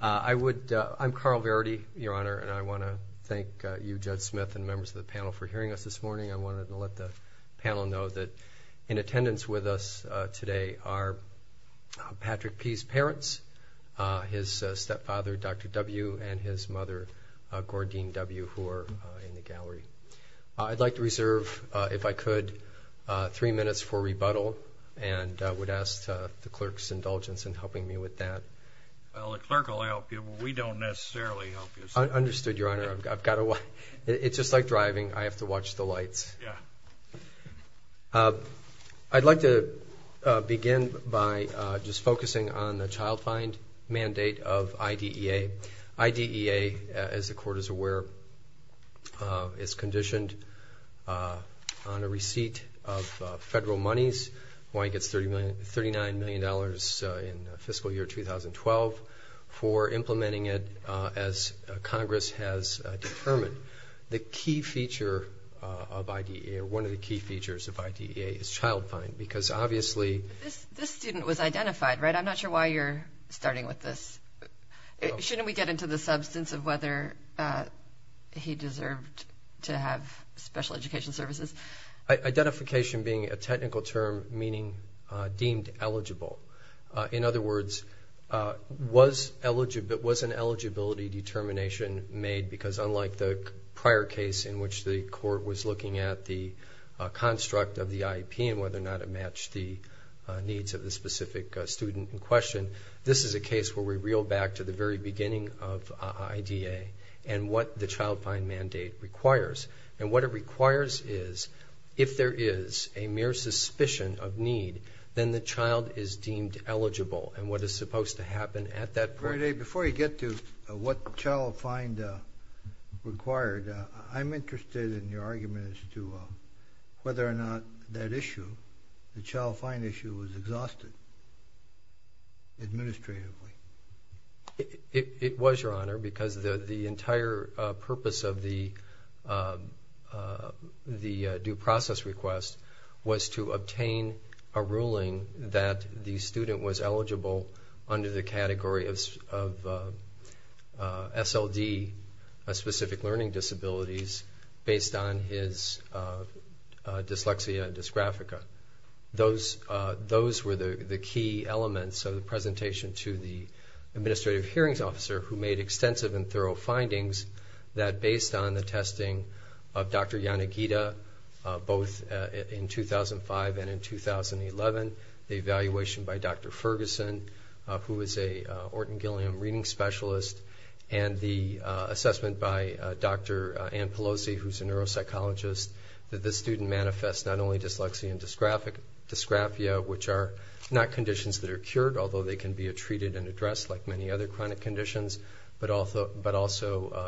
I'm Carl Verity, Your Honor, and I want to thank you, Judge Smith, and members of the panel for hearing us this morning. I wanted to let the panel know that in attendance with us today are Patrick P.'s parents, his stepfather, Dr. W., and his mother, Gordine W., who are in the gallery. I'd like to reserve, if I could, three minutes for rebuttal and would ask the clerk's indulgence in helping me with that. Well, the clerk will help you. We don't necessarily help you. Understood, Your Honor. It's just like driving. I have to watch the lights. I'd like to begin by just focusing on the child fine mandate of IDEA. IDEA, as the Court is aware, is conditioned on a receipt of federal monies. Hawaii gets $39 million in fiscal year 2012 for implementing it as Congress has determined. The key feature of IDEA, or one of the key features of IDEA, is child fine, because obviously- This student was identified, right? I'm not sure why you're starting with this. Shouldn't we get into the substance of whether he deserved to have special education services? Identification being a technical term meaning deemed eligible. In other words, was an eligibility determination made? Because unlike the prior case in which the Court was looking at the construct of the IEP and whether or not it matched the needs of the specific student in question, this is a case where we reel back to the very beginning of IDEA and what the child fine mandate requires. And what it requires is, if there is a mere suspicion of need, then the child is deemed eligible. And what is supposed to happen at that point- Very good. Before you get to what child fine required, I'm interested in your argument as to whether or not that issue, the child fine issue, was exhausted administratively. It was, Your Honor, because the entire purpose of the due process request was to obtain a ruling that the student was eligible under the category of SLD, specific learning disabilities, based on his dyslexia and dysgraphia. Those were the key elements of the presentation to the Administrative Hearings Officer, who made extensive and thorough findings that, based on the testing of Dr. Yanagida, both in 2005 and in 2011, the evaluation by Dr. Ferguson, who is a Orton-Gilliam reading specialist, and the assessment by Dr. Ann Pelosi, who's a neuropsychologist, that this student manifests not only dyslexia and dysgraphia, which are not conditions that are cured, although they can be treated and addressed, like many other chronic conditions, but also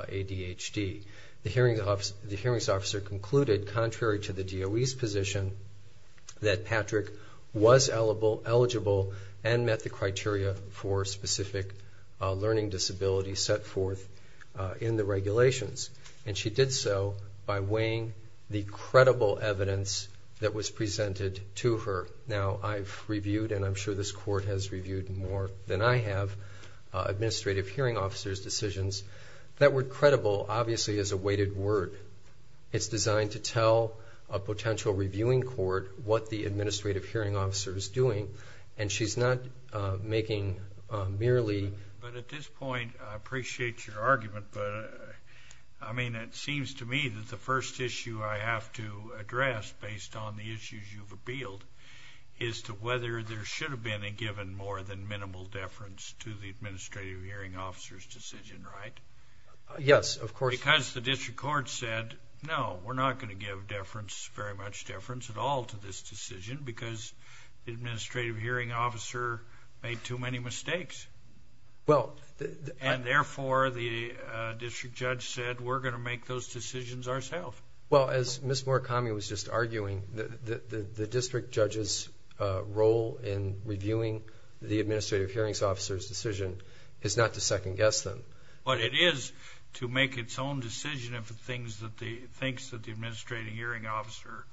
ADHD. The Hearings Officer concluded, contrary to the DOE's position, that Patrick was eligible and met the criteria for specific learning disabilities set forth in the regulations. And she did so by weighing the credible evidence that was presented to her. Now, I've reviewed, and I'm sure this court has reviewed more than I have, Administrative Hearing Officers' decisions. That word credible, obviously, is a weighted word. It's designed to tell a potential reviewing court what the Administrative Hearing Officer is doing, and she's not making merely... But at this point, I appreciate your argument, but, I mean, it seems to me that the first issue I have to address, based on the issues you've appealed, is to whether there should have been a given more than minimal deference to the Administrative Hearing Officer's decision, right? Yes, of course. Because the District Court said, no, we're not going to give deference, very much deference at all to this decision, because the Administrative Hearing Officer made too many mistakes. And therefore, the District Judge said, we're going to make those decisions ourselves. Well, as Ms. Murakami was just arguing, the District Judge's role in reviewing the Administrative Hearing Officer's decision is not to second-guess them. But it is to make its own decision of the things that the... thinks that the Administrative Hearing Officer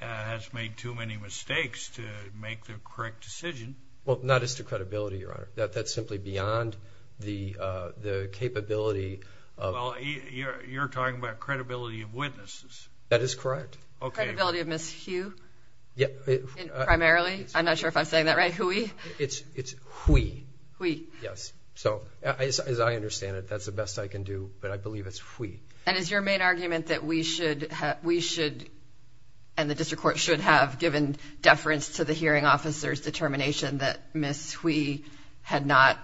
has made too many mistakes to make the correct decision. Well, not as to credibility, Your Honor. That's simply beyond the capability of... Well, you're talking about credibility of witnesses. That is correct. Credibility of Ms. Hugh, primarily? I'm not sure if I'm saying that right. Huey? It's Huey. Huey. Yes. So, as I understand it, that's the best I can do. But I believe it's Huey. And is your main argument that we should... And the District Court should have given deference to the Hearing Officer's determination that Ms. Huey had not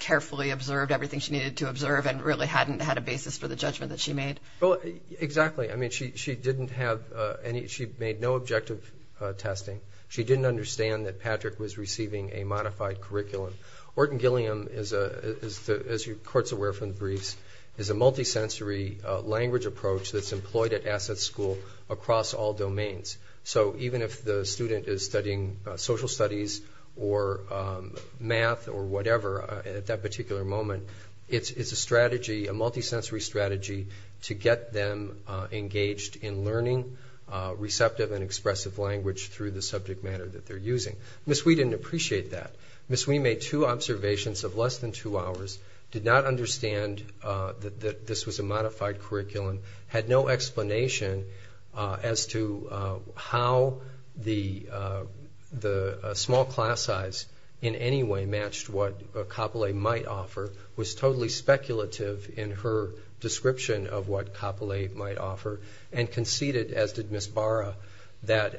carefully observed everything she needed to observe and really hadn't had a basis for the judgment that she made? Well, exactly. I mean, she didn't have any... She made no objective testing. She didn't understand that Patrick was receiving a modified curriculum. Orton-Gilliam, as the Court's aware from the briefs, is a multi-sensory language approach that's employed at Asset School across all domains. So even if the student is studying social studies or math or whatever at that particular moment, it's a strategy, a multi-sensory strategy to get them engaged in learning receptive and expressive language through the subject matter that they're using. Ms. Huey didn't appreciate that. Ms. Huey made two observations of less than two hours, did not understand that this was a modified curriculum, had no explanation as to how the small class size in any way matched what a copulate might offer, was totally speculative in her description of what copulate might offer, and conceded, as did Ms. Barra, that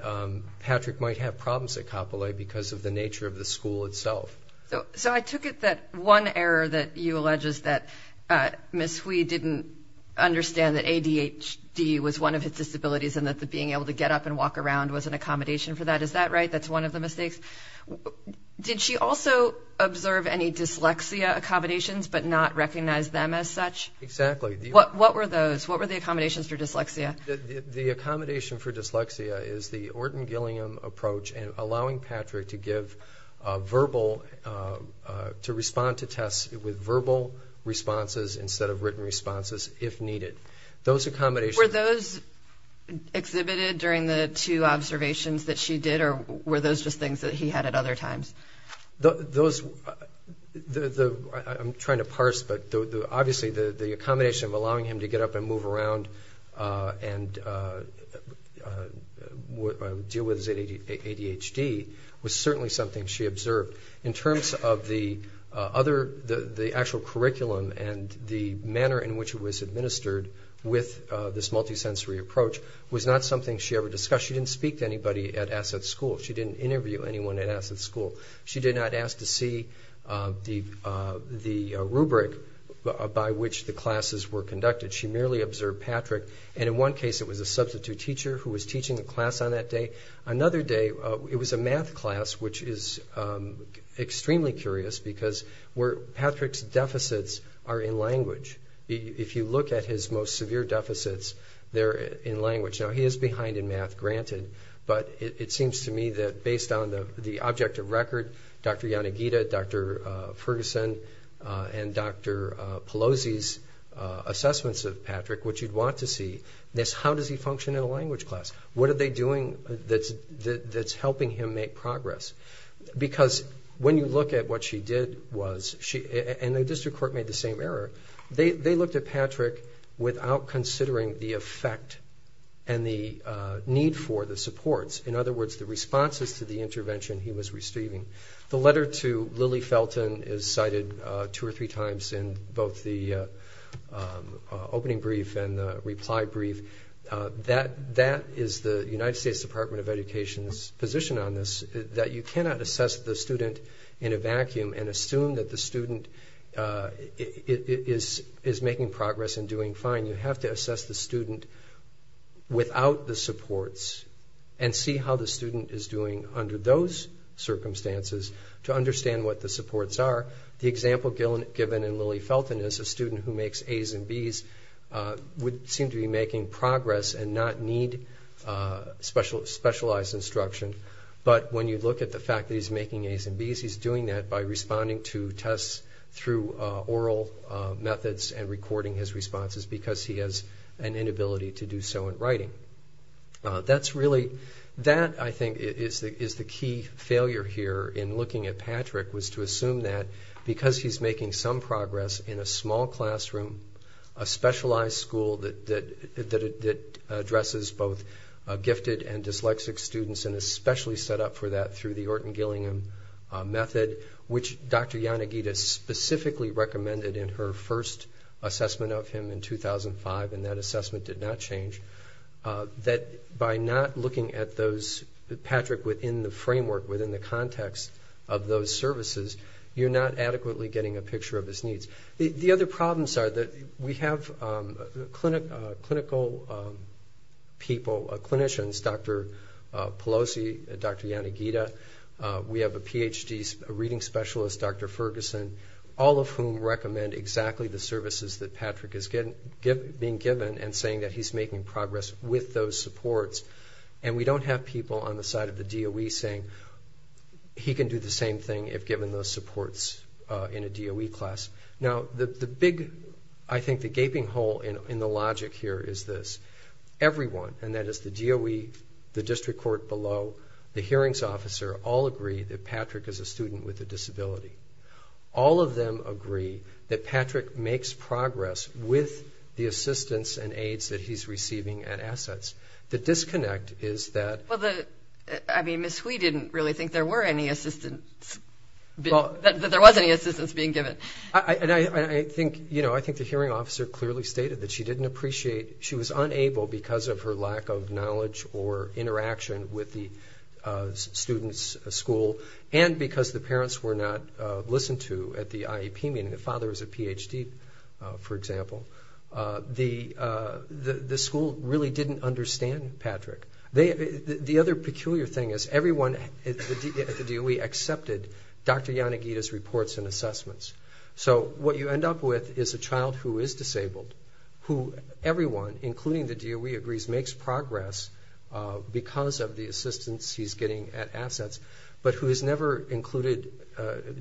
Patrick might have problems at copulate because of the nature of the school itself. So I took it that one error that you allege is that Ms. Huey didn't understand that ADHD was one of his disabilities and that being able to get up and walk around was an accommodation for that. Is that right? That's one of the mistakes. Did she also observe any dyslexia, accommodations, but not recognize them as such? Exactly. What were those? What were the accommodations for dyslexia? The accommodation for dyslexia is the Orton-Gilliam approach and allowing Patrick to give verbal, to respond to tests with verbal responses instead of written responses if needed. Those accommodations... Were those exhibited during the two observations that she did or were those just things that he had at other times? Those... I'm trying to parse, but obviously the accommodation of allowing him to get up and move around and deal with his ADHD was certainly something she observed. In terms of the actual curriculum and the manner in which it was administered with this multisensory approach was not something she ever discussed. She didn't speak to anybody at Asset School. She didn't interview anyone at Asset School. She did not ask to see the rubric by which the classes were conducted. She merely observed Patrick and in one case it was a substitute teacher who was teaching the class on that day. Another day, it was a math class which is extremely curious because Patrick's deficits are in language. If you look at his most severe deficits, they're in language. Now he is behind in math, granted, but it seems to me that based on the object of record, Dr. Yanagida, Dr. Ferguson, and Dr. Pelosi's assessments of Patrick, which you'd want to see, is how does he function in a language class? What are they doing that's helping him make progress? Because when you look at what she did, and the district court made the same error, they looked at Patrick without considering the effect and the need for the supports. In other words, the responses to the intervention he was receiving. The letter to Lily Felton is cited two or three times in both the opening brief and the reply brief. That is the United States Department of Education's position on this, that you cannot assess the student in a vacuum and assume that the student is making progress and doing fine. You have to assess the student without the supports and see how the student is doing under those circumstances to understand what the supports are. The example given in Lily Felton is a student who makes A's and B's would seem to be making progress and not need specialized instruction. But when you look at the fact that he's making A's and B's, he's doing that by responding to tests through oral methods and recording his responses because he has an inability to do so in writing. That, I think, is the key failure here in looking at Patrick was to assume that because he's making some progress in a small classroom, a specialized school that addresses both gifted and dyslexic students and is specially set up for that through the Orton-Gillingham method, which Dr. Yanagida specifically recommended in her first assessment of him in 2005 and that assessment did not change, that by not looking at Patrick within the framework, within the context of those services, you're not adequately getting a picture of his needs. The other problems are that we have clinical people, clinicians, Dr. Pelosi, Dr. Yanagida. We have a PhD reading specialist, Dr. Ferguson, all of whom recommend exactly the services that Patrick is being given and saying that he's making progress with those supports. And we don't have people on the side of the DOE saying he can do the same thing if given those supports in a DOE class. Now, the big, I think, the gaping hole in the logic here is this. Everyone, and that is the DOE, the district court below, the hearings officer, all agree that Patrick is a student with a disability. All of them agree that Patrick makes progress with the assistance and aids that he's receiving and assets. The disconnect is that... Well, I mean, Ms. Hui didn't really think there were any assistance, that there was any assistance being given. And I think, you know, I think the hearing officer clearly stated that she was unable because of her lack of knowledge or interaction with the student's school and because the parents were not listened to at the IEP meeting. The father is a PhD, for example. The school really didn't understand Patrick. The other peculiar thing is everyone at the DOE accepted Dr. Yanagida's reports and assessments. So what you end up with is a child who is disabled, who everyone, including the DOE, agrees makes progress because of the assistance he's getting at assets, but who is never included,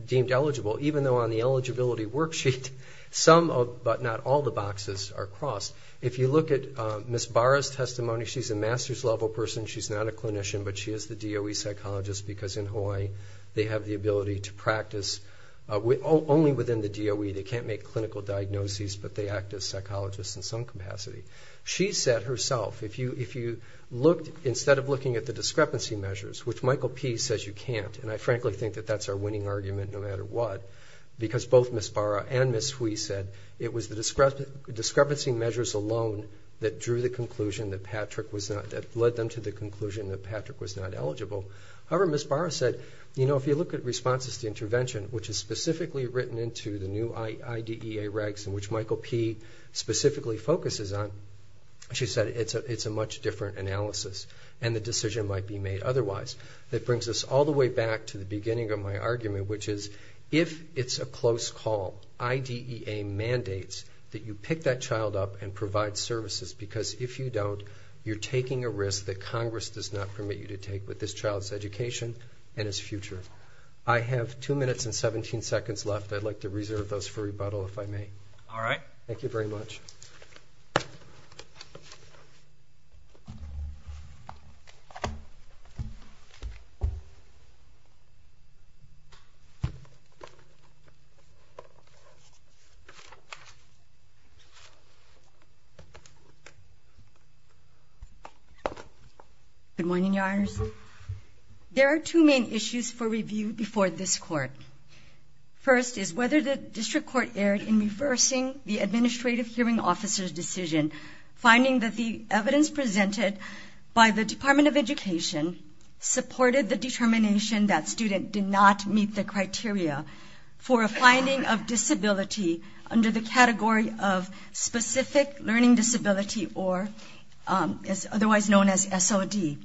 deemed eligible, even though on the eligibility worksheet some, but not all, the boxes are crossed. If you look at Ms. Barra's testimony, she's a master's level person. She's not a clinician, but she is the DOE psychologist because in Hawaii, they have the ability to practice only within the DOE. They can't make clinical diagnoses, but they act as psychologists in some capacity. She said herself, if you looked, instead of looking at the discrepancy measures, which Michael P. says you can't, and I frankly think that that's our winning argument no matter what, because both Ms. Barra and Ms. Hui said it was the discrepancy measures alone that drew the conclusion that Patrick was not, that led them to the conclusion that Patrick was not eligible. However, Ms. Barra said, you know, if you look at responses to intervention, which is specifically written into the new IDEA regs in which Michael P. specifically focuses on, she said it's a much different analysis and the decision might be made otherwise. That brings us all the way back to the beginning of my argument, which is if it's a close call, IDEA mandates that you pick that child up and provide services because if you don't, you're taking a risk that Congress does not permit you to take with this child's education and his future. I have two minutes and 17 seconds left. I'd like to reserve those for rebuttal if I may. All right. Thank you very much. Good morning, Your Honors. There are two main issues for review before this court. First is whether the district court erred in reversing the administrative hearing officer's decision, finding that the evidence presented by the Department of Education supported the determination that student did not meet the criteria for a finding of disability under the category of specific learning disability or otherwise known as SOD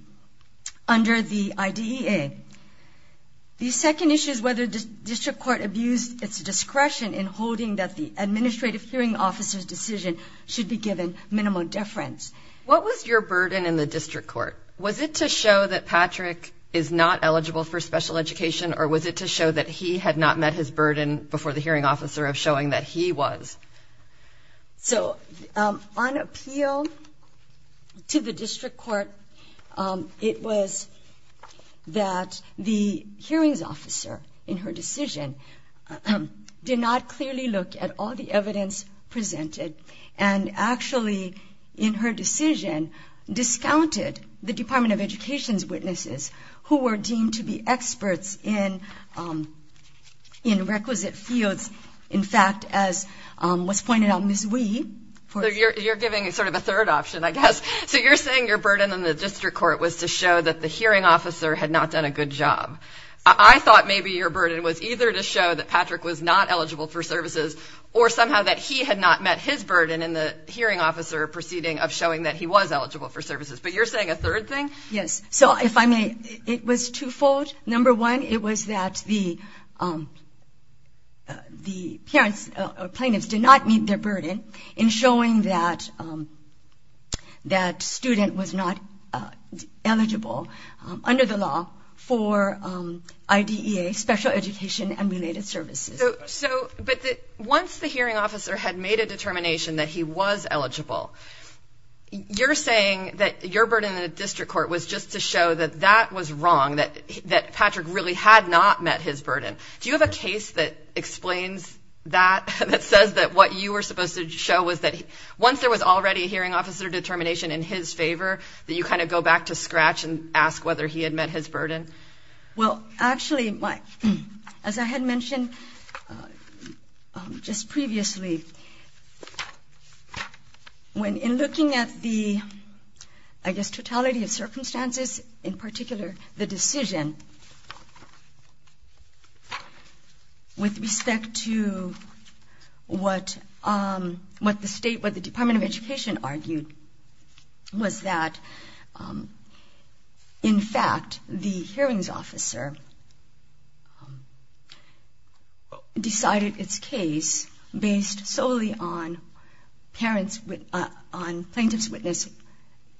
under the IDEA. The second issue is whether the district court abused its discretion in holding that the administrative hearing officer's decision should be given minimal deference. What was your burden in the district court? Was it to show that Patrick is not eligible for special education or was it to show that he had not met his burden before the hearing officer of showing that he was? So on appeal to the district court, it was that the hearings officer in her decision did not clearly look at all the evidence presented and actually in her decision discounted the Department of Education's witnesses who were deemed to be experts in requisite fields. In fact, as was pointed out, Ms. Wee. You're giving sort of a third option, I guess. So you're saying your burden in the district court was to show that the hearing officer had not done a good job. I thought maybe your burden was either to show that Patrick was not eligible for services or somehow that he had not met his burden in the hearing officer proceeding of showing that he was eligible for services. But you're saying a third thing? Yes. So if I may, it was twofold. Number one, it was that the parents or plaintiffs did not meet their burden in showing that student was not eligible under the law for IDEA, special education and related services. But once the hearing officer had made a determination that he was eligible, you're saying that your burden in the district court was just to show that that was wrong, that Patrick really had not met his burden. Do you have a case that explains that, that says that what you were supposed to show was that once there was already a hearing officer determination in his favor, that you kind of go back to scratch and ask whether he had met his burden? Well, actually, as I had mentioned just previously, in looking at the, I guess, totality of circumstances, in particular, with respect to what the state, what the Department of Education argued, was that, in fact, the hearings officer decided its case based solely on parents on plaintiff's witness,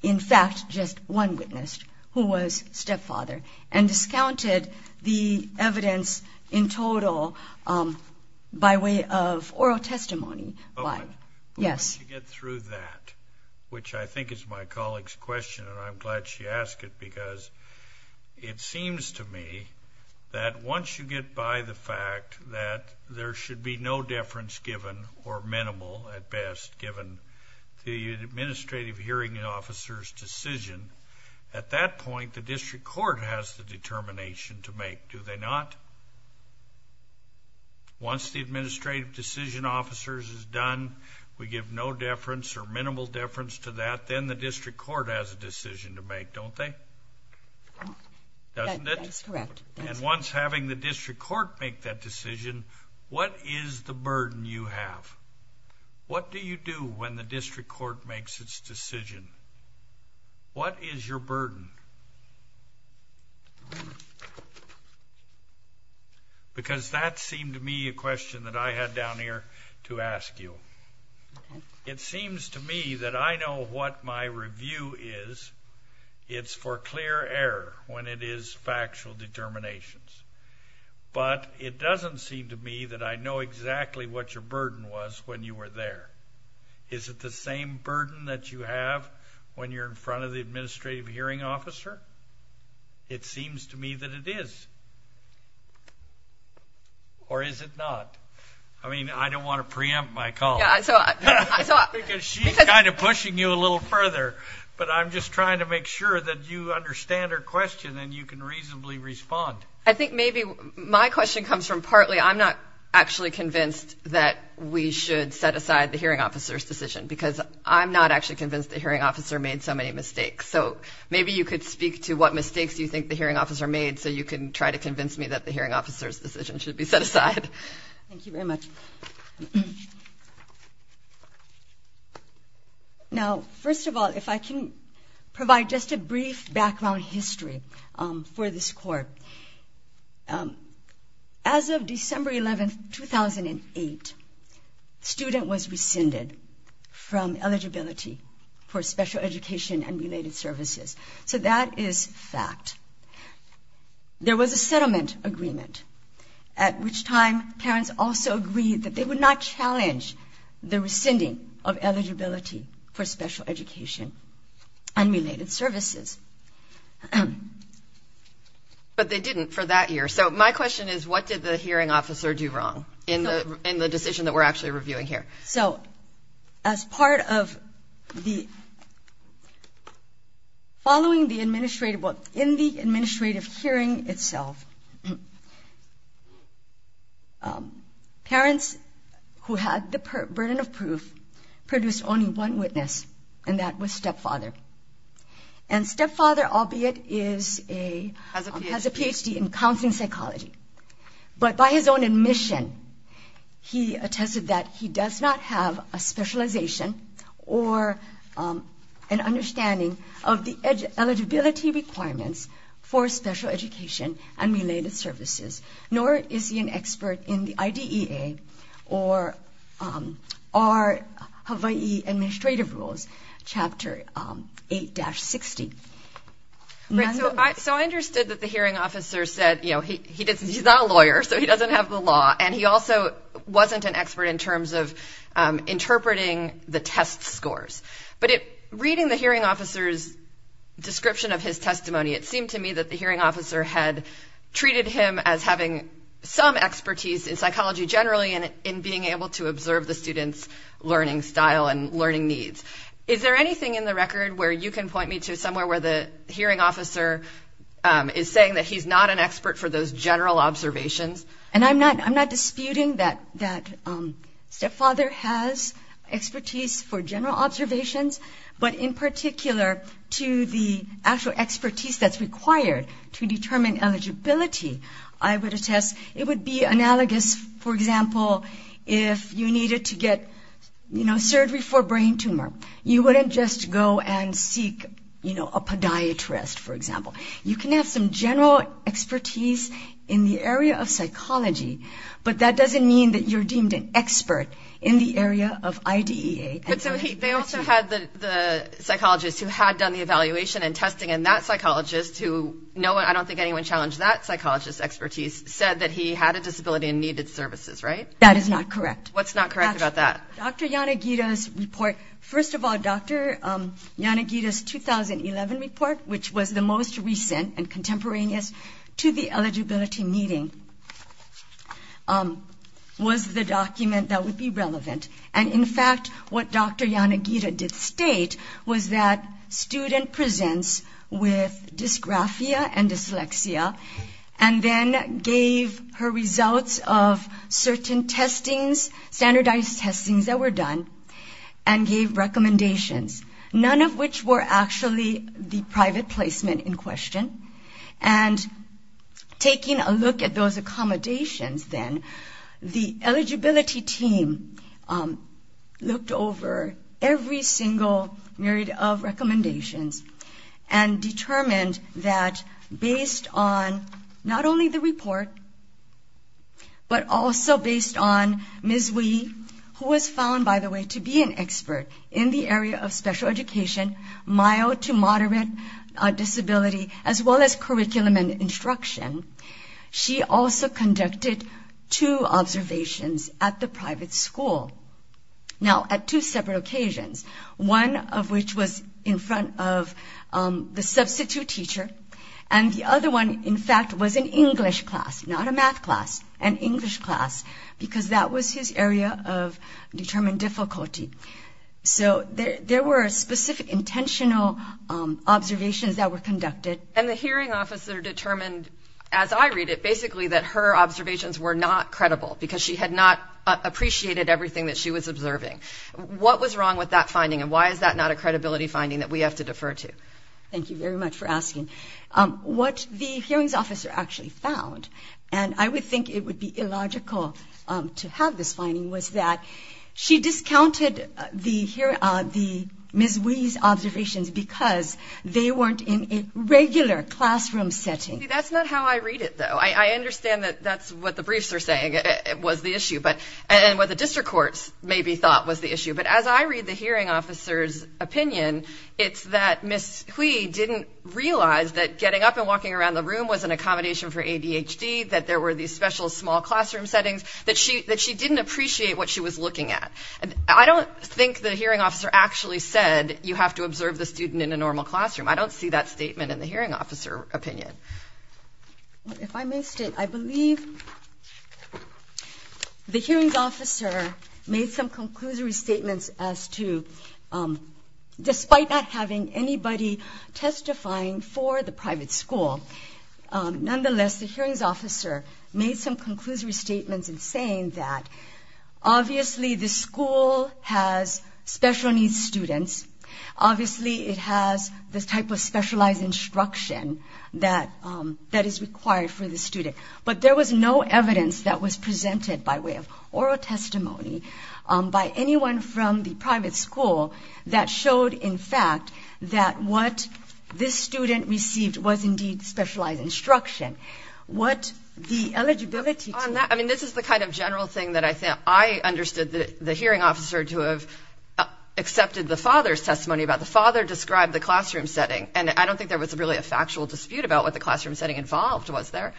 in fact, just one witness who was stepfather, and discounted the evidence in total by way of oral testimony. Yes. Once you get through that, which I think is my colleague's question, and I'm glad she asked it, because it seems to me that once you get by the fact that there should be no deference given or minimal, at best, given the administrative hearing officer's decision, at that point, the district court has the determination to make, do they not? Once the administrative decision officer's is done, we give no deference or minimal deference to that, then the district court has a decision to make, don't they? Doesn't it? That's correct. And once having the district court make that decision, what is the burden you have? What do you do when the district court makes its decision? What is your burden? Because that seemed to me a question that I had down here to ask you. It seems to me that I know what my review is. It's for clear error when it is factual determinations, but it doesn't seem to me that I know exactly what your burden was when you were there. Is it the same burden that you have when you're in front of the administrative hearing officer? It seems to me that it is. Or is it not? I mean, I don't want to preempt my call. Because she's kind of pushing you a little further, but I'm just trying to make sure that you understand her question and you can reasonably respond. I think maybe my question comes from partly I'm not actually convinced that we should set aside the hearing officer's decision because I'm not actually convinced the hearing officer made so many mistakes. So maybe you could speak to what mistakes you think the hearing officer made so you can try to convince me that the hearing officer's decision should be set aside. Thank you very much. Now, first of all, if I can provide just a brief background history for this court. As of December 11, 2008, student was rescinded from eligibility for special education and related services. So that is fact. There was a settlement agreement, at which time parents also agreed that they would not challenge the rescinding of eligibility for special education and related services. But they didn't for that year. So my question is, what did the hearing officer do wrong in the decision that we're actually reviewing here? So as part of the following the administrative, what in the administrative hearing itself, parents who had the burden of proof produced only one witness, and that was stepfather. And stepfather, albeit has a PhD in counseling psychology, but by his own admission, he attested that he does not have a specialization or an understanding of the eligibility requirements for special education and related services, nor is he an expert in the IDEA or our Hawaii administrative rules, chapter 8-60. Right, so I understood that the hearing officer said, you know, he's not a lawyer, so he doesn't have the law. And he also wasn't an expert in terms of interpreting the test scores. But reading the hearing officer's description of his testimony, it seemed to me that the hearing officer had treated him as having some expertise in psychology generally and in being able to observe the student's learning style and learning needs. Is there anything in the record where you can point me somewhere where the hearing officer is saying that he's not an expert for those general observations? And I'm not disputing that stepfather has expertise for general observations, but in particular to the actual expertise that's required to determine eligibility, I would attest it would be analogous, for example, if you needed to get, you know, surgery for brain tumor. You wouldn't just go and seek, you know, a podiatrist, for example. You can have some general expertise in the area of psychology, but that doesn't mean that you're deemed an expert in the area of IDEA. But they also had the psychologist who had done the evaluation and testing, and that psychologist, who no, I don't think anyone challenged that psychologist's expertise, and needed services, right? That is not correct. What's not correct about that? Dr. Yanagida's report. First of all, Dr. Yanagida's 2011 report, which was the most recent and contemporaneous to the eligibility meeting, was the document that would be relevant. And in fact, what Dr. Yanagida did state was that student presents with dysgraphia and dyslexia, and then gave her results of certain testings, standardized testings that were done, and gave recommendations, none of which were actually the private placement in question. And taking a look at those accommodations then, the eligibility team looked over every single myriad of recommendations and determined that based on not only the report, but also based on Ms. Wee, who was found, to be an expert in the area of special education, mild to moderate disability, as well as curriculum and instruction. She also conducted two observations at the private school. Now at two separate occasions, one of which was in front of the substitute teacher, and the other one, in fact, was an English class, not a math class, an English class, because that was his area of determined difficulty. So there were specific intentional observations that were conducted. And the hearing officer determined, as I read it, basically that her observations were not credible because she had not appreciated everything that she was observing. What was wrong with that finding? And why is that not a credibility finding that we have to defer to? Thank you very much for asking. What the hearings officer actually found, and I would think it would be illogical to have this finding, was that she discounted the Ms. Hui's observations because they weren't in a regular classroom setting. That's not how I read it, though. I understand that that's what the briefs are saying was the issue, and what the district courts maybe thought was the issue. But as I read the hearing officer's opinion, it's that Ms. Hui didn't realize that getting up and walking around the room was an accommodation for ADHD, that there were these special small classroom settings that she didn't appreciate what she was looking at. I don't think the hearing officer actually said you have to observe the student in a normal classroom. I don't see that statement in the hearing officer opinion. If I may state, I believe the hearings officer made some conclusory statements as to, despite not having anybody testifying for the private school, nonetheless, the hearings officer made some conclusory statements that obviously the school has special needs students. Obviously, it has this type of specialized instruction that is required for the student. But there was no evidence that was presented by way of oral testimony by anyone from the private school that showed, in fact, that what this student received was indeed specialized instruction. What the eligibility... This is the kind of general thing that I understood that the hearing officer to have accepted the father's testimony about the father described the classroom setting. And I don't think there was really a factual dispute about what the classroom setting involved was there.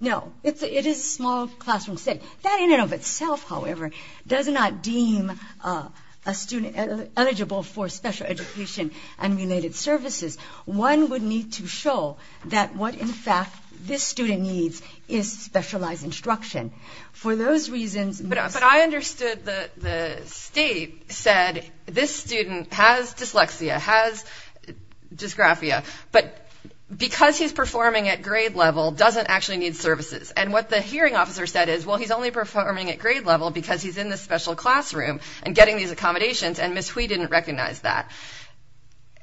No, it is a small classroom setting. That in and of itself, however, does not deem a student eligible for special education and related services. One would need to show that what, in fact, this student needs is specialized instruction. For those reasons... But I understood the state said this student has dyslexia, has dysgraphia, but because he's performing at grade level doesn't actually need services. And what the hearing officer said is, well, he's only performing at grade level because he's in this special classroom and getting these accommodations. And Ms. Hui didn't recognize that.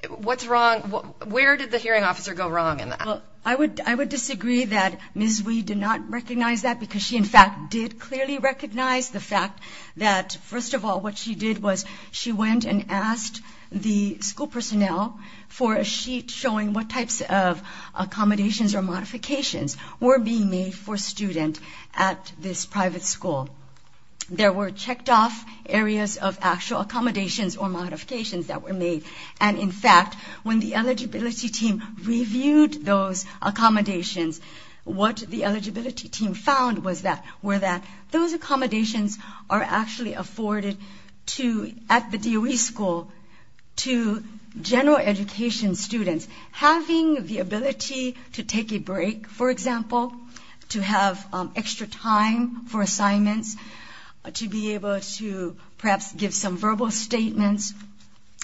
What's wrong? Where did the hearing officer go wrong in that? I would disagree that Ms. Hui did not recognize that because she, in fact, did clearly recognize the fact that, first of all, what she did was she went and asked the school personnel for a sheet showing what types of accommodations or modifications were being made for student at this private school. There were checked off areas of actual accommodations or modifications that were made. And in fact, when the eligibility team reviewed those accommodations, what the eligibility team found was that were that those accommodations are actually afforded at the DOE school to general education students having the ability to take a break, for example, to have extra time for assignments, to be able to perhaps give some verbal statements,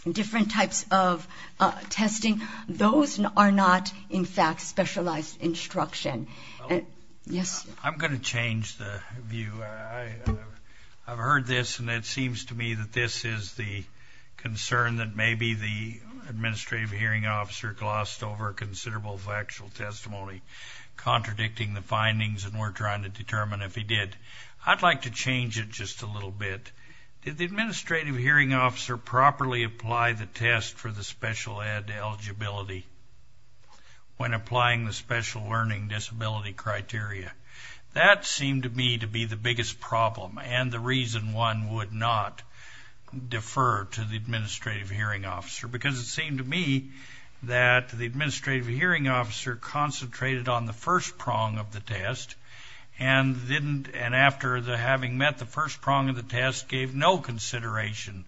different types of testing. Those are not, in fact, specialized instruction. Yes? I'm going to change the view. I've heard this, and it seems to me that this is the concern that maybe the administrative hearing officer glossed over a considerable factual testimony contradicting the findings and we're trying to determine if he did. I'd like to change it just a little bit. Did the administrative hearing officer properly apply the test for the special ed eligibility when applying the special learning disability criteria? That seemed to me to be the biggest problem and the reason one would not defer to the administrative hearing officer, because it seemed to me that the administrative hearing officer concentrated on the first prong of the test and didn't, and after having met the first prong of the test, gave no consideration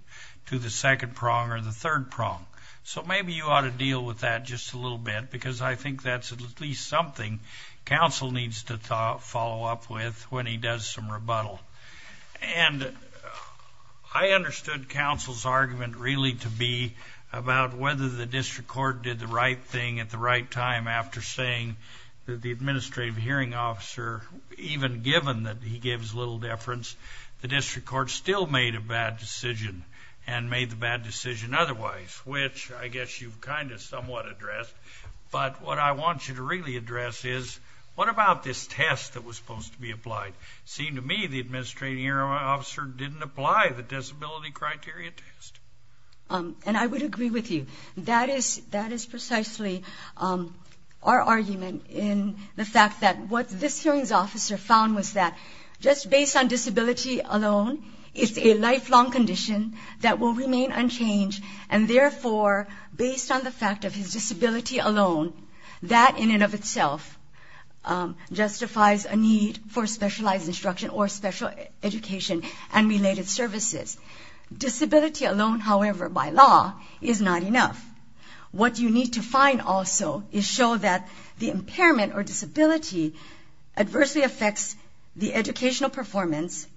to the second prong or the third prong. So maybe you ought to deal with that just a little bit, because I think that's at least something counsel needs to follow up with when he does some rebuttal. And I understood counsel's argument really to be about whether the district court did the right thing at the right time after saying that the administrative hearing officer, even given that he gave his little deference, the district court still made a bad decision and made the bad decision otherwise, which I guess you've kind of somewhat addressed. But what I want you to really address is what about this test that was supposed to be applied? Seemed to me the administrative hearing officer didn't apply the disability criteria test. And I would agree with you. That is precisely our argument in the fact that what this hearings officer found was that just based on disability alone, it's a lifelong condition that will remain unchanged. And therefore, based on the fact of his disability alone, that in and of itself justifies a need for specialized instruction or special education and related services. Disability alone, however, by law is not enough. What you need to find also is show that the impairment or disability adversely affects the educational performance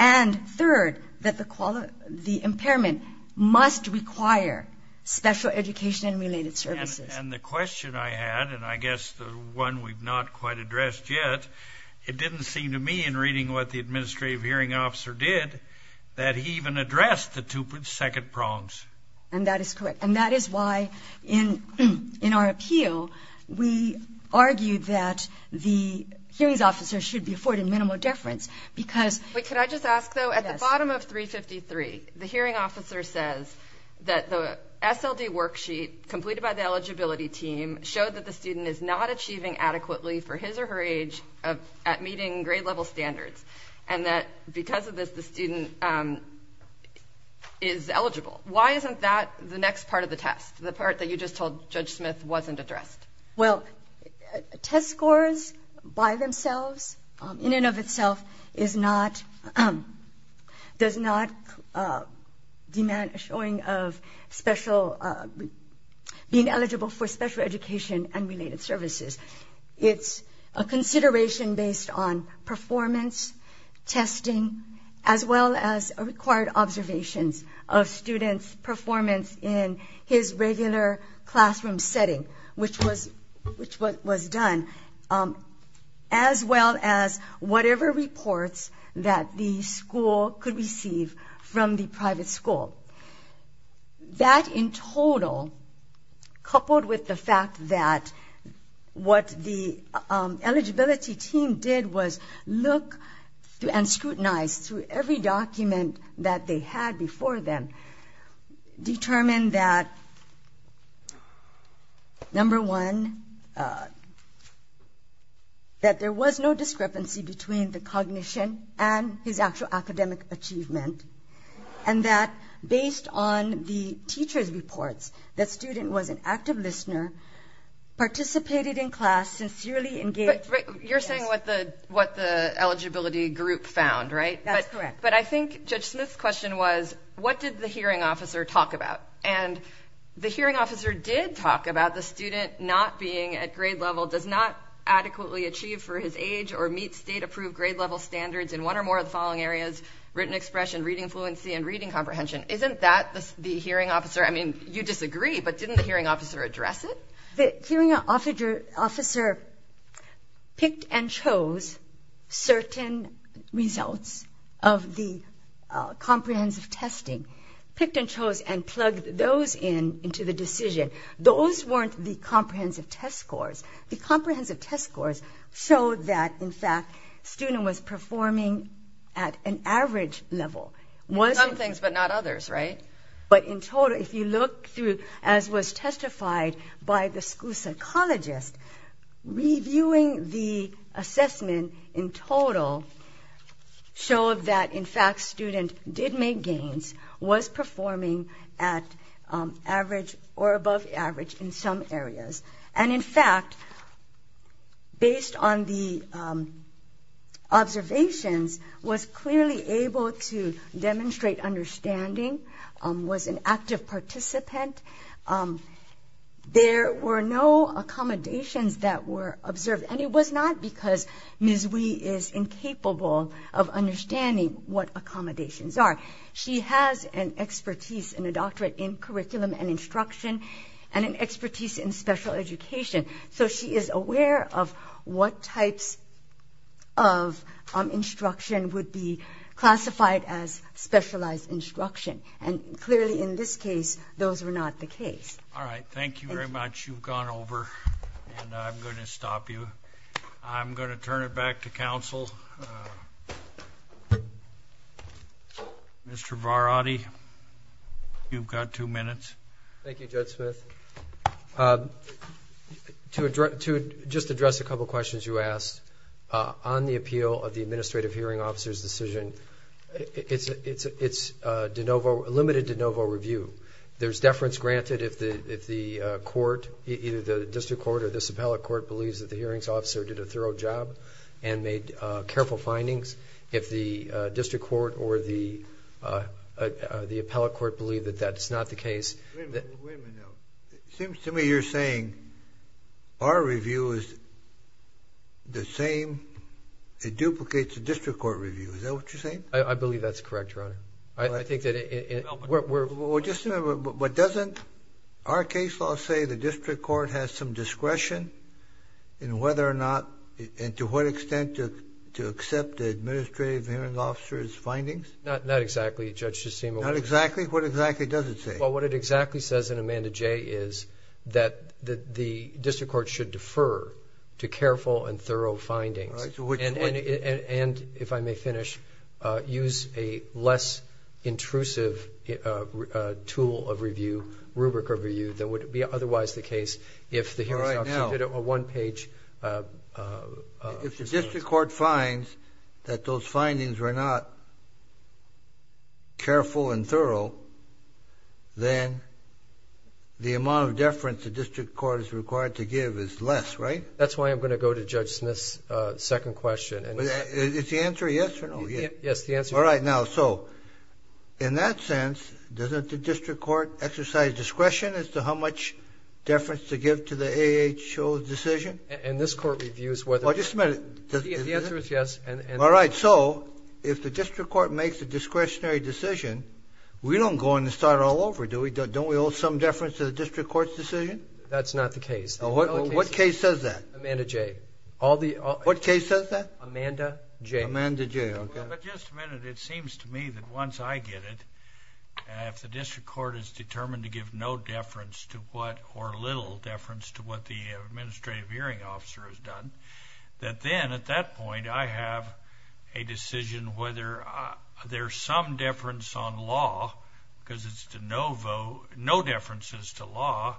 and third, that the impairment must require special education and related services. And the question I had, and I guess the one we've not quite addressed yet, it didn't seem to me in reading what the administrative hearing officer did, that he even addressed the two second prongs. And that is correct. And that is why in our appeal, we argued that the hearings officer should be afforded minimal deference because... Wait, could I just ask though? At the bottom of 353, the hearing officer says that the SLD worksheet completed by the eligibility team showed that the student is not achieving adequately for his or her age at meeting grade level standards. And that because of this, the student is eligible. Why isn't that the next part of the test? The part that you just told Judge Smith wasn't addressed. Well, test scores by themselves in and of itself is not... Does not demand a showing of special... being eligible for special education and related services. It's a consideration based on performance, testing, as well as required observations of students' performance in his regular classroom setting, which was done, as well as whatever reports that the school could receive from the private school. That in total, coupled with the fact that what the eligibility team did was look and scrutinize through every document that they had before them, determined that number one, that there was no discrepancy between the cognition and his actual academic achievement. And that based on the teacher's reports, that student was an active listener, participated in class, sincerely engaged... But you're saying what the eligibility group found, right? That's correct. But I think Judge Smith's question was, what did the hearing officer talk about? And the hearing officer did talk about the student not being at grade level, does not adequately achieve for his age, or meet state approved grade level standards in one or more of the following areas, written expression, reading fluency, and reading comprehension. Isn't that the hearing officer? I mean, you disagree, but didn't the hearing officer address it? The hearing officer picked and chose certain results of the comprehensive testing, picked and chose, and plugged those into the decision. Those weren't the comprehensive test scores The comprehensive test scores showed that, in fact, student was performing at an average level. Some things, but not others, right? But in total, if you look through, as was testified by the school psychologist, reviewing the assessment in total showed that, in fact, student did make gains, was performing at average or above average in some areas. And in fact, based on the observations, was clearly able to demonstrate understanding, was an active participant. There were no accommodations that were observed, and it was not because Ms. Wee is incapable of understanding what accommodations are. She has an expertise in a doctorate in curriculum and instruction, and an expertise in special education. So she is aware of what types of instruction would be classified as specialized instruction. And clearly, in this case, those were not the case. All right. Thank you very much. You've gone over, and I'm going to stop you. I'm going to turn it back to counsel. Mr. Varady, you've got two minutes. Thank you, Judge Smith. To just address a couple of questions you asked, on the appeal of the administrative hearing officer's decision, it's limited de novo review. There's deference granted if the court, either the district court or this appellate court, believes that the hearings officer did a thorough job and made careful findings. If the district court or the appellate court believe that that's not the case... Wait a minute now. It seems to me you're saying our review is the same. It duplicates the district court review. Is that what you're saying? I believe that's correct, Your Honor. I think that... Well, just a minute. But doesn't our case law say the district court has some discretion in whether or not, and to what extent, to accept the administrative hearing officer's findings? Not exactly, Judge, it just seemed... Not exactly? What exactly does it say? Well, what it exactly says in Amanda J. is that the district court should defer to careful and thorough findings. And, if I may finish, use a less intrusive tool of review, rubric of review, than would be otherwise the case If the district court finds that those findings were not careful and thorough, then the amount of deference the district court is required to give is less, right? That's why I'm going to go to Judge Smith's second question. Is the answer yes or no? Yes, the answer is yes. All right, now, so, in that sense, doesn't the district court exercise discretion as to how much deference to give to the AHO's decision? And this court reviews whether... Well, just a minute. The answer is yes. All right, so, if the district court makes a discretionary decision, we don't go in and start all over, do we? Don't we owe some deference to the district court's decision? That's not the case. What case says that? Amanda J. What case says that? Amanda J. Amanda J, okay. But, just a minute. It seems to me that once I get it, if the district court is determined to give no deference or little deference to what the Administrative Hearing Officer has done, that then, at that point, I have a decision whether there's some deference on law, because it's de novo, no differences to law,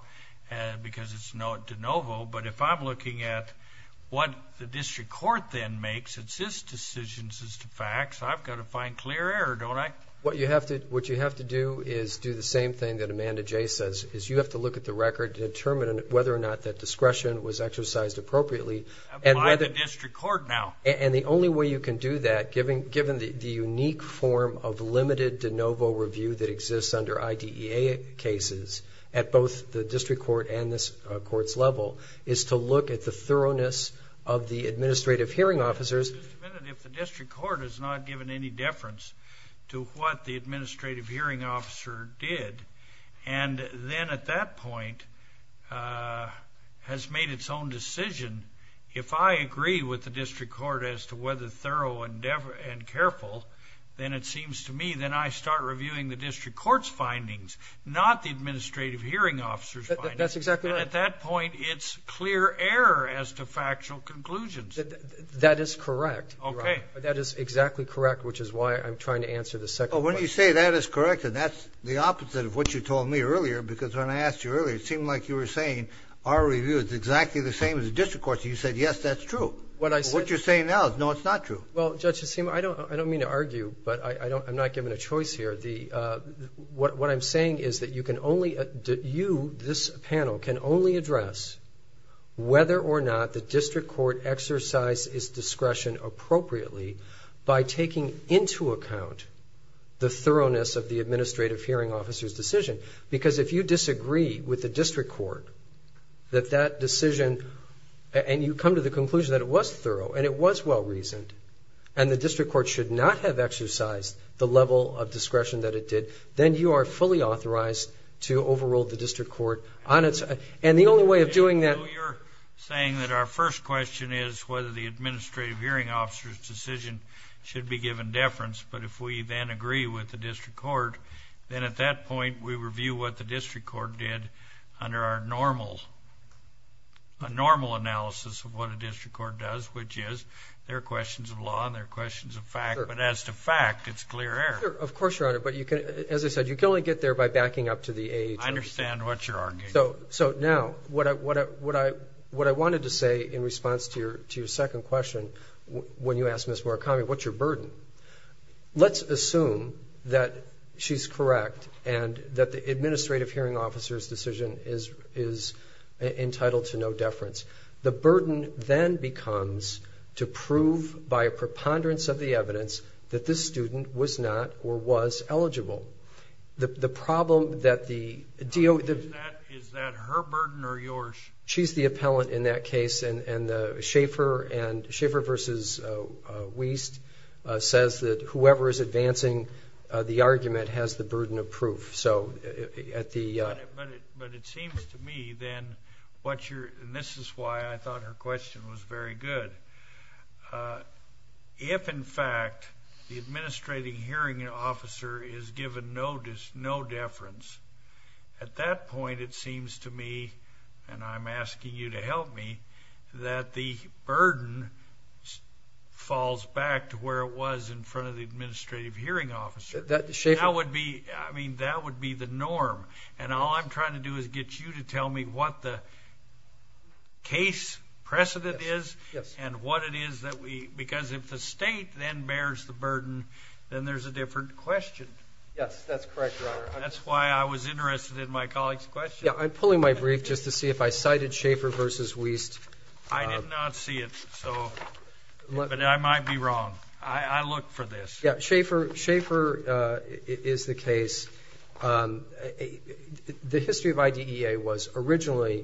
because it's de novo. But if I'm looking at what the district court then makes, it's his decisions as to facts, I've got to find clear error, don't I? What you have to do is do the same thing that Amanda J. says, is you have to look at the record to determine whether or not that discretion was exercised appropriately. By the district court now. And the only way you can do that, given the unique form of limited de novo review that exists under IDEA cases, at both the district court and this court's level, is to look at the thoroughness of the Administrative Hearing Officers. Just a minute. If the district court has not given any deference to what the Administrative Hearing Officer did, and then, at that point, has made its own decision, if I agree with the district court as to whether thorough and careful, then it seems to me that I start reviewing the district court's findings, not the Administrative Hearing Officer's findings. That's exactly right. At that point, it's clear error as to factual conclusions. That is correct. Okay. That is exactly correct, which is why I'm trying to answer the second question. Well, when you say that is correct, and that's the opposite of what you told me earlier, because when I asked you earlier, it seemed like you were saying our review is exactly the same as the district court's. You said, yes, that's true. What I said... What you're saying now is, no, it's not true. Well, Judge, I don't mean to argue, but I don't... I'm not given a choice here. What I'm saying is that you can only... You, this panel, can only address whether or not the district court exercise its discretion appropriately by taking into account the thoroughness of the Administrative Hearing Officer's decision. Because if you disagree with the district court, that that decision... And you come to the conclusion that it was thorough, and it was well-reasoned, and the district court should not have exercised the level of discretion that it did, then you are fully authorized to overrule the district court on its... And the only way of doing that... So you're saying that our first question is whether the Administrative Hearing Officer's decision should be given deference. But if we then agree with the district court, then at that point, we review what the district court did under our normal... a normal analysis of what a district court does, which is there are questions of law and there are questions of fact. But as to fact, it's clear air. Of course, Your Honor. But you can, as I said, you can only get there by backing up to the AHA. I understand what you're arguing. So now, what I wanted to say in response to your second question, when you asked Ms. Murakami, what's your burden? Let's assume that she's correct and that the Administrative Hearing Officer's decision is entitled to no deference. The burden then becomes to prove by a preponderance of the evidence that this student was not or was eligible. The problem that the deal... Is that her burden or yours? She's the appellant in that case. And the Schaefer and Schaefer versus Wiest says that whoever is advancing the argument has the burden of proof. So at the... But it seems to me then what you're... And this is why I thought her question was very good. Uh, if in fact, the Administrative Hearing Officer is given no deference, at that point, it seems to me, and I'm asking you to help me, that the burden falls back to where it was in front of the Administrative Hearing Officer. That would be... I mean, that would be the norm. And all I'm trying to do is get you to tell me what the case precedent is and what it is that we... Because if the state then bears the burden, then there's a different question. Yes, that's correct, Your Honor. That's why I was interested in my colleague's question. Yeah, I'm pulling my brief just to see if I cited Schaefer versus Wiest. I did not see it, so... But I might be wrong. I look for this. Yeah, Schaefer is the case. The history of IDEA was originally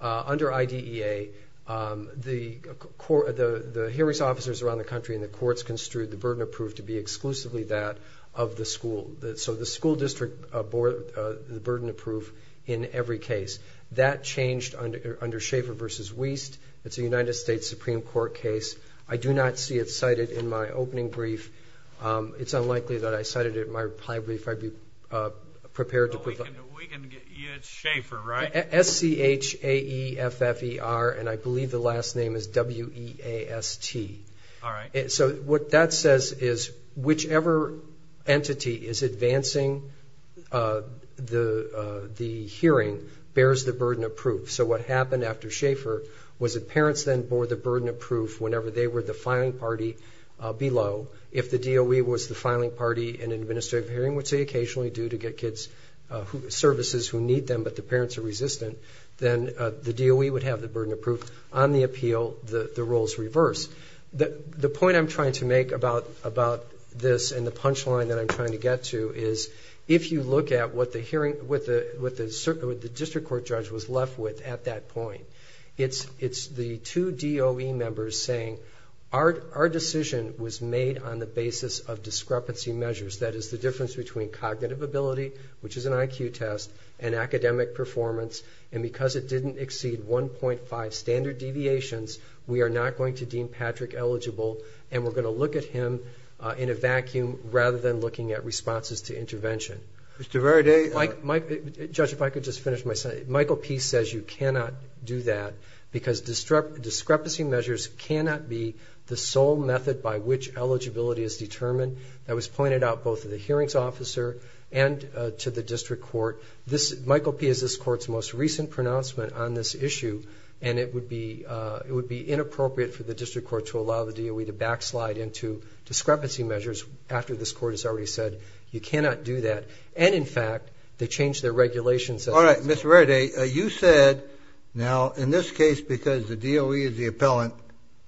under IDEA, the hearings officers around the country and the courts construed the burden approved to be exclusively that of the school. So the school district board, the burden approved in every case. That changed under Schaefer versus Wiest. It's a United States Supreme Court case. I do not see it cited in my opening brief. It's unlikely that I cited it in my reply brief. I'd be prepared to put... We can get... Yeah, it's Schaefer, right? S-C-H-A-E-F-F-E-R. And I believe the last name is W-E-A-S-T. All right. So what that says is whichever entity is advancing the hearing bears the burden of proof. So what happened after Schaefer was that parents then bore the burden of proof whenever they were the filing party below. If the DOE was the filing party in an administrative hearing, which they occasionally do to get kids services who need them, but the parents are resistant, then the DOE would have the burden of proof. On the appeal, the roles reverse. The point I'm trying to make about this and the punchline that I'm trying to get to is if you look at what the district court judge was left with at that point, it's the two DOE members saying our decision was made on the basis of discrepancy measures. That is the difference between cognitive ability, which is an IQ test, and academic performance. And because it didn't exceed 1.5 standard deviations, we are not going to deem Patrick eligible, and we're going to look at him in a vacuum rather than looking at responses to intervention. Mr. Veraday. Judge, if I could just finish my sentence. Michael P. says you cannot do that because discrepancy measures cannot be the sole method by which eligibility is determined. That was pointed out both to the hearings officer and to the district court. Michael P. is this court's most recent pronouncement on this issue, and it would be inappropriate for the district court to allow the DOE to backslide into discrepancy measures after this court has already said you cannot do that. And in fact, they changed their regulations. All right, Mr. Veraday, you said now in this case because the DOE is the appellant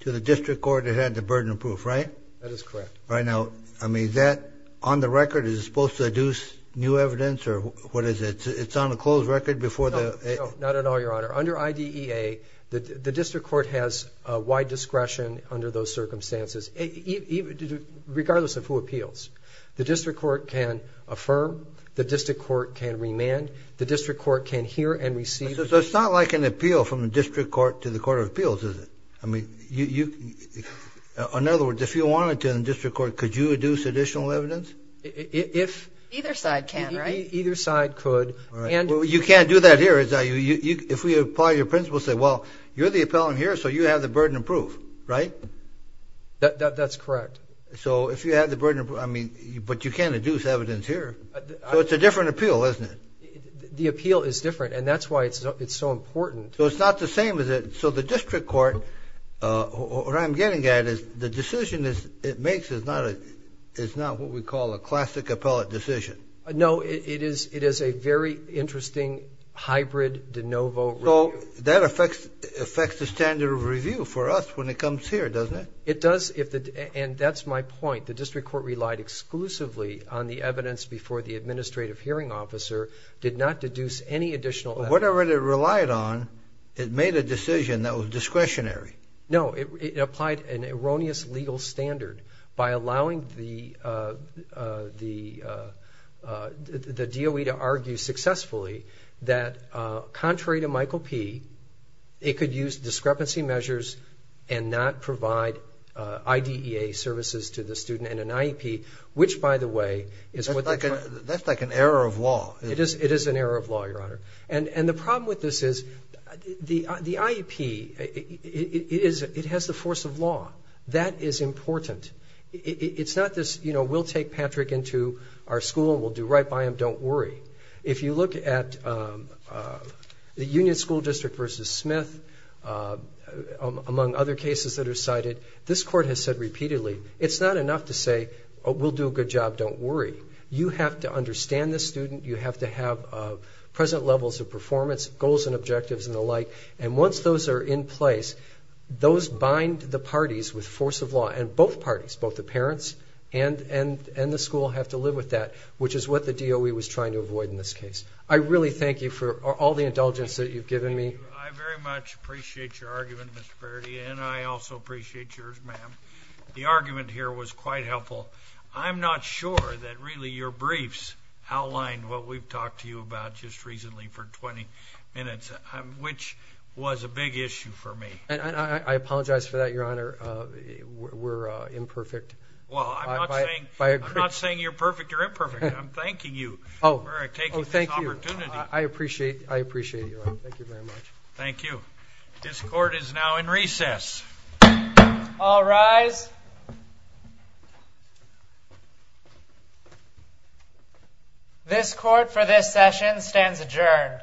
to the district court that had the burden of proof, right? That is correct. Right now, I mean, is that on the record? Is it supposed to deduce new evidence or what is it? It's on a closed record before the... Not at all, Your Honor. Under IDEA, the district court has a wide discretion under those circumstances, regardless of who appeals. The district court can affirm. The district court can remand. The district court can hear and receive. So it's not like an appeal from the district court to the court of appeals, is it? I mean, you... In other words, if you wanted to in the district court, could you deduce additional evidence? If... Either side can, right? Either side could. You can't do that here, if we apply your principle, say, well, you're the appellant here, so you have the burden of proof, right? That's correct. So if you have the burden of proof, I mean, but you can't deduce evidence here. So it's a different appeal, isn't it? The appeal is different and that's why it's so important. So it's not the same as... So the district court, what I'm getting at is the decision it makes is not what we call a classic appellate decision. No, it is a very interesting hybrid de novo review. So that affects the standard of review for us when it comes here, doesn't it? It does, and that's my point. The district court relied exclusively on the evidence before the administrative hearing officer, did not deduce any additional evidence. Whatever it relied on, it made a decision that was discretionary. No, it applied an erroneous legal standard by allowing the DOE to argue successfully that contrary to Michael P, it could use discrepancy measures and not provide IDEA services to the student and an IEP, which by the way is what... That's like an error of law. It is an error of law, Your Honor. And the problem with this is the IEP, it has the force of law. That is important. It's not this, you know, we'll take Patrick into our school and we'll do right by him, don't worry. If you look at the Union School District versus Smith, among other cases that are cited, this court has said repeatedly, it's not enough to say, we'll do a good job, don't worry. You have to understand the student. You have to have present levels of performance, goals and objectives and the like. And once those are in place, those bind the parties with force of law and both parties, both the parents and the school have to live with that, which is what the DOE was trying to avoid in this case. I really thank you for all the indulgence that you've given me. I very much appreciate your argument, Mr. Brady. And I also appreciate yours, ma'am. The argument here was quite helpful. I'm not sure that really your briefs outlined what we've talked to you about just recently for 20 minutes, which was a big issue for me. And I apologize for that, Your Honor. We're imperfect. Well, I'm not saying you're perfect, you're imperfect. I'm thanking you for taking this opportunity. I appreciate it. I appreciate it, Your Honor. Thank you very much. Thank you. This court is now in recess. All rise. This court for this session stands adjourned.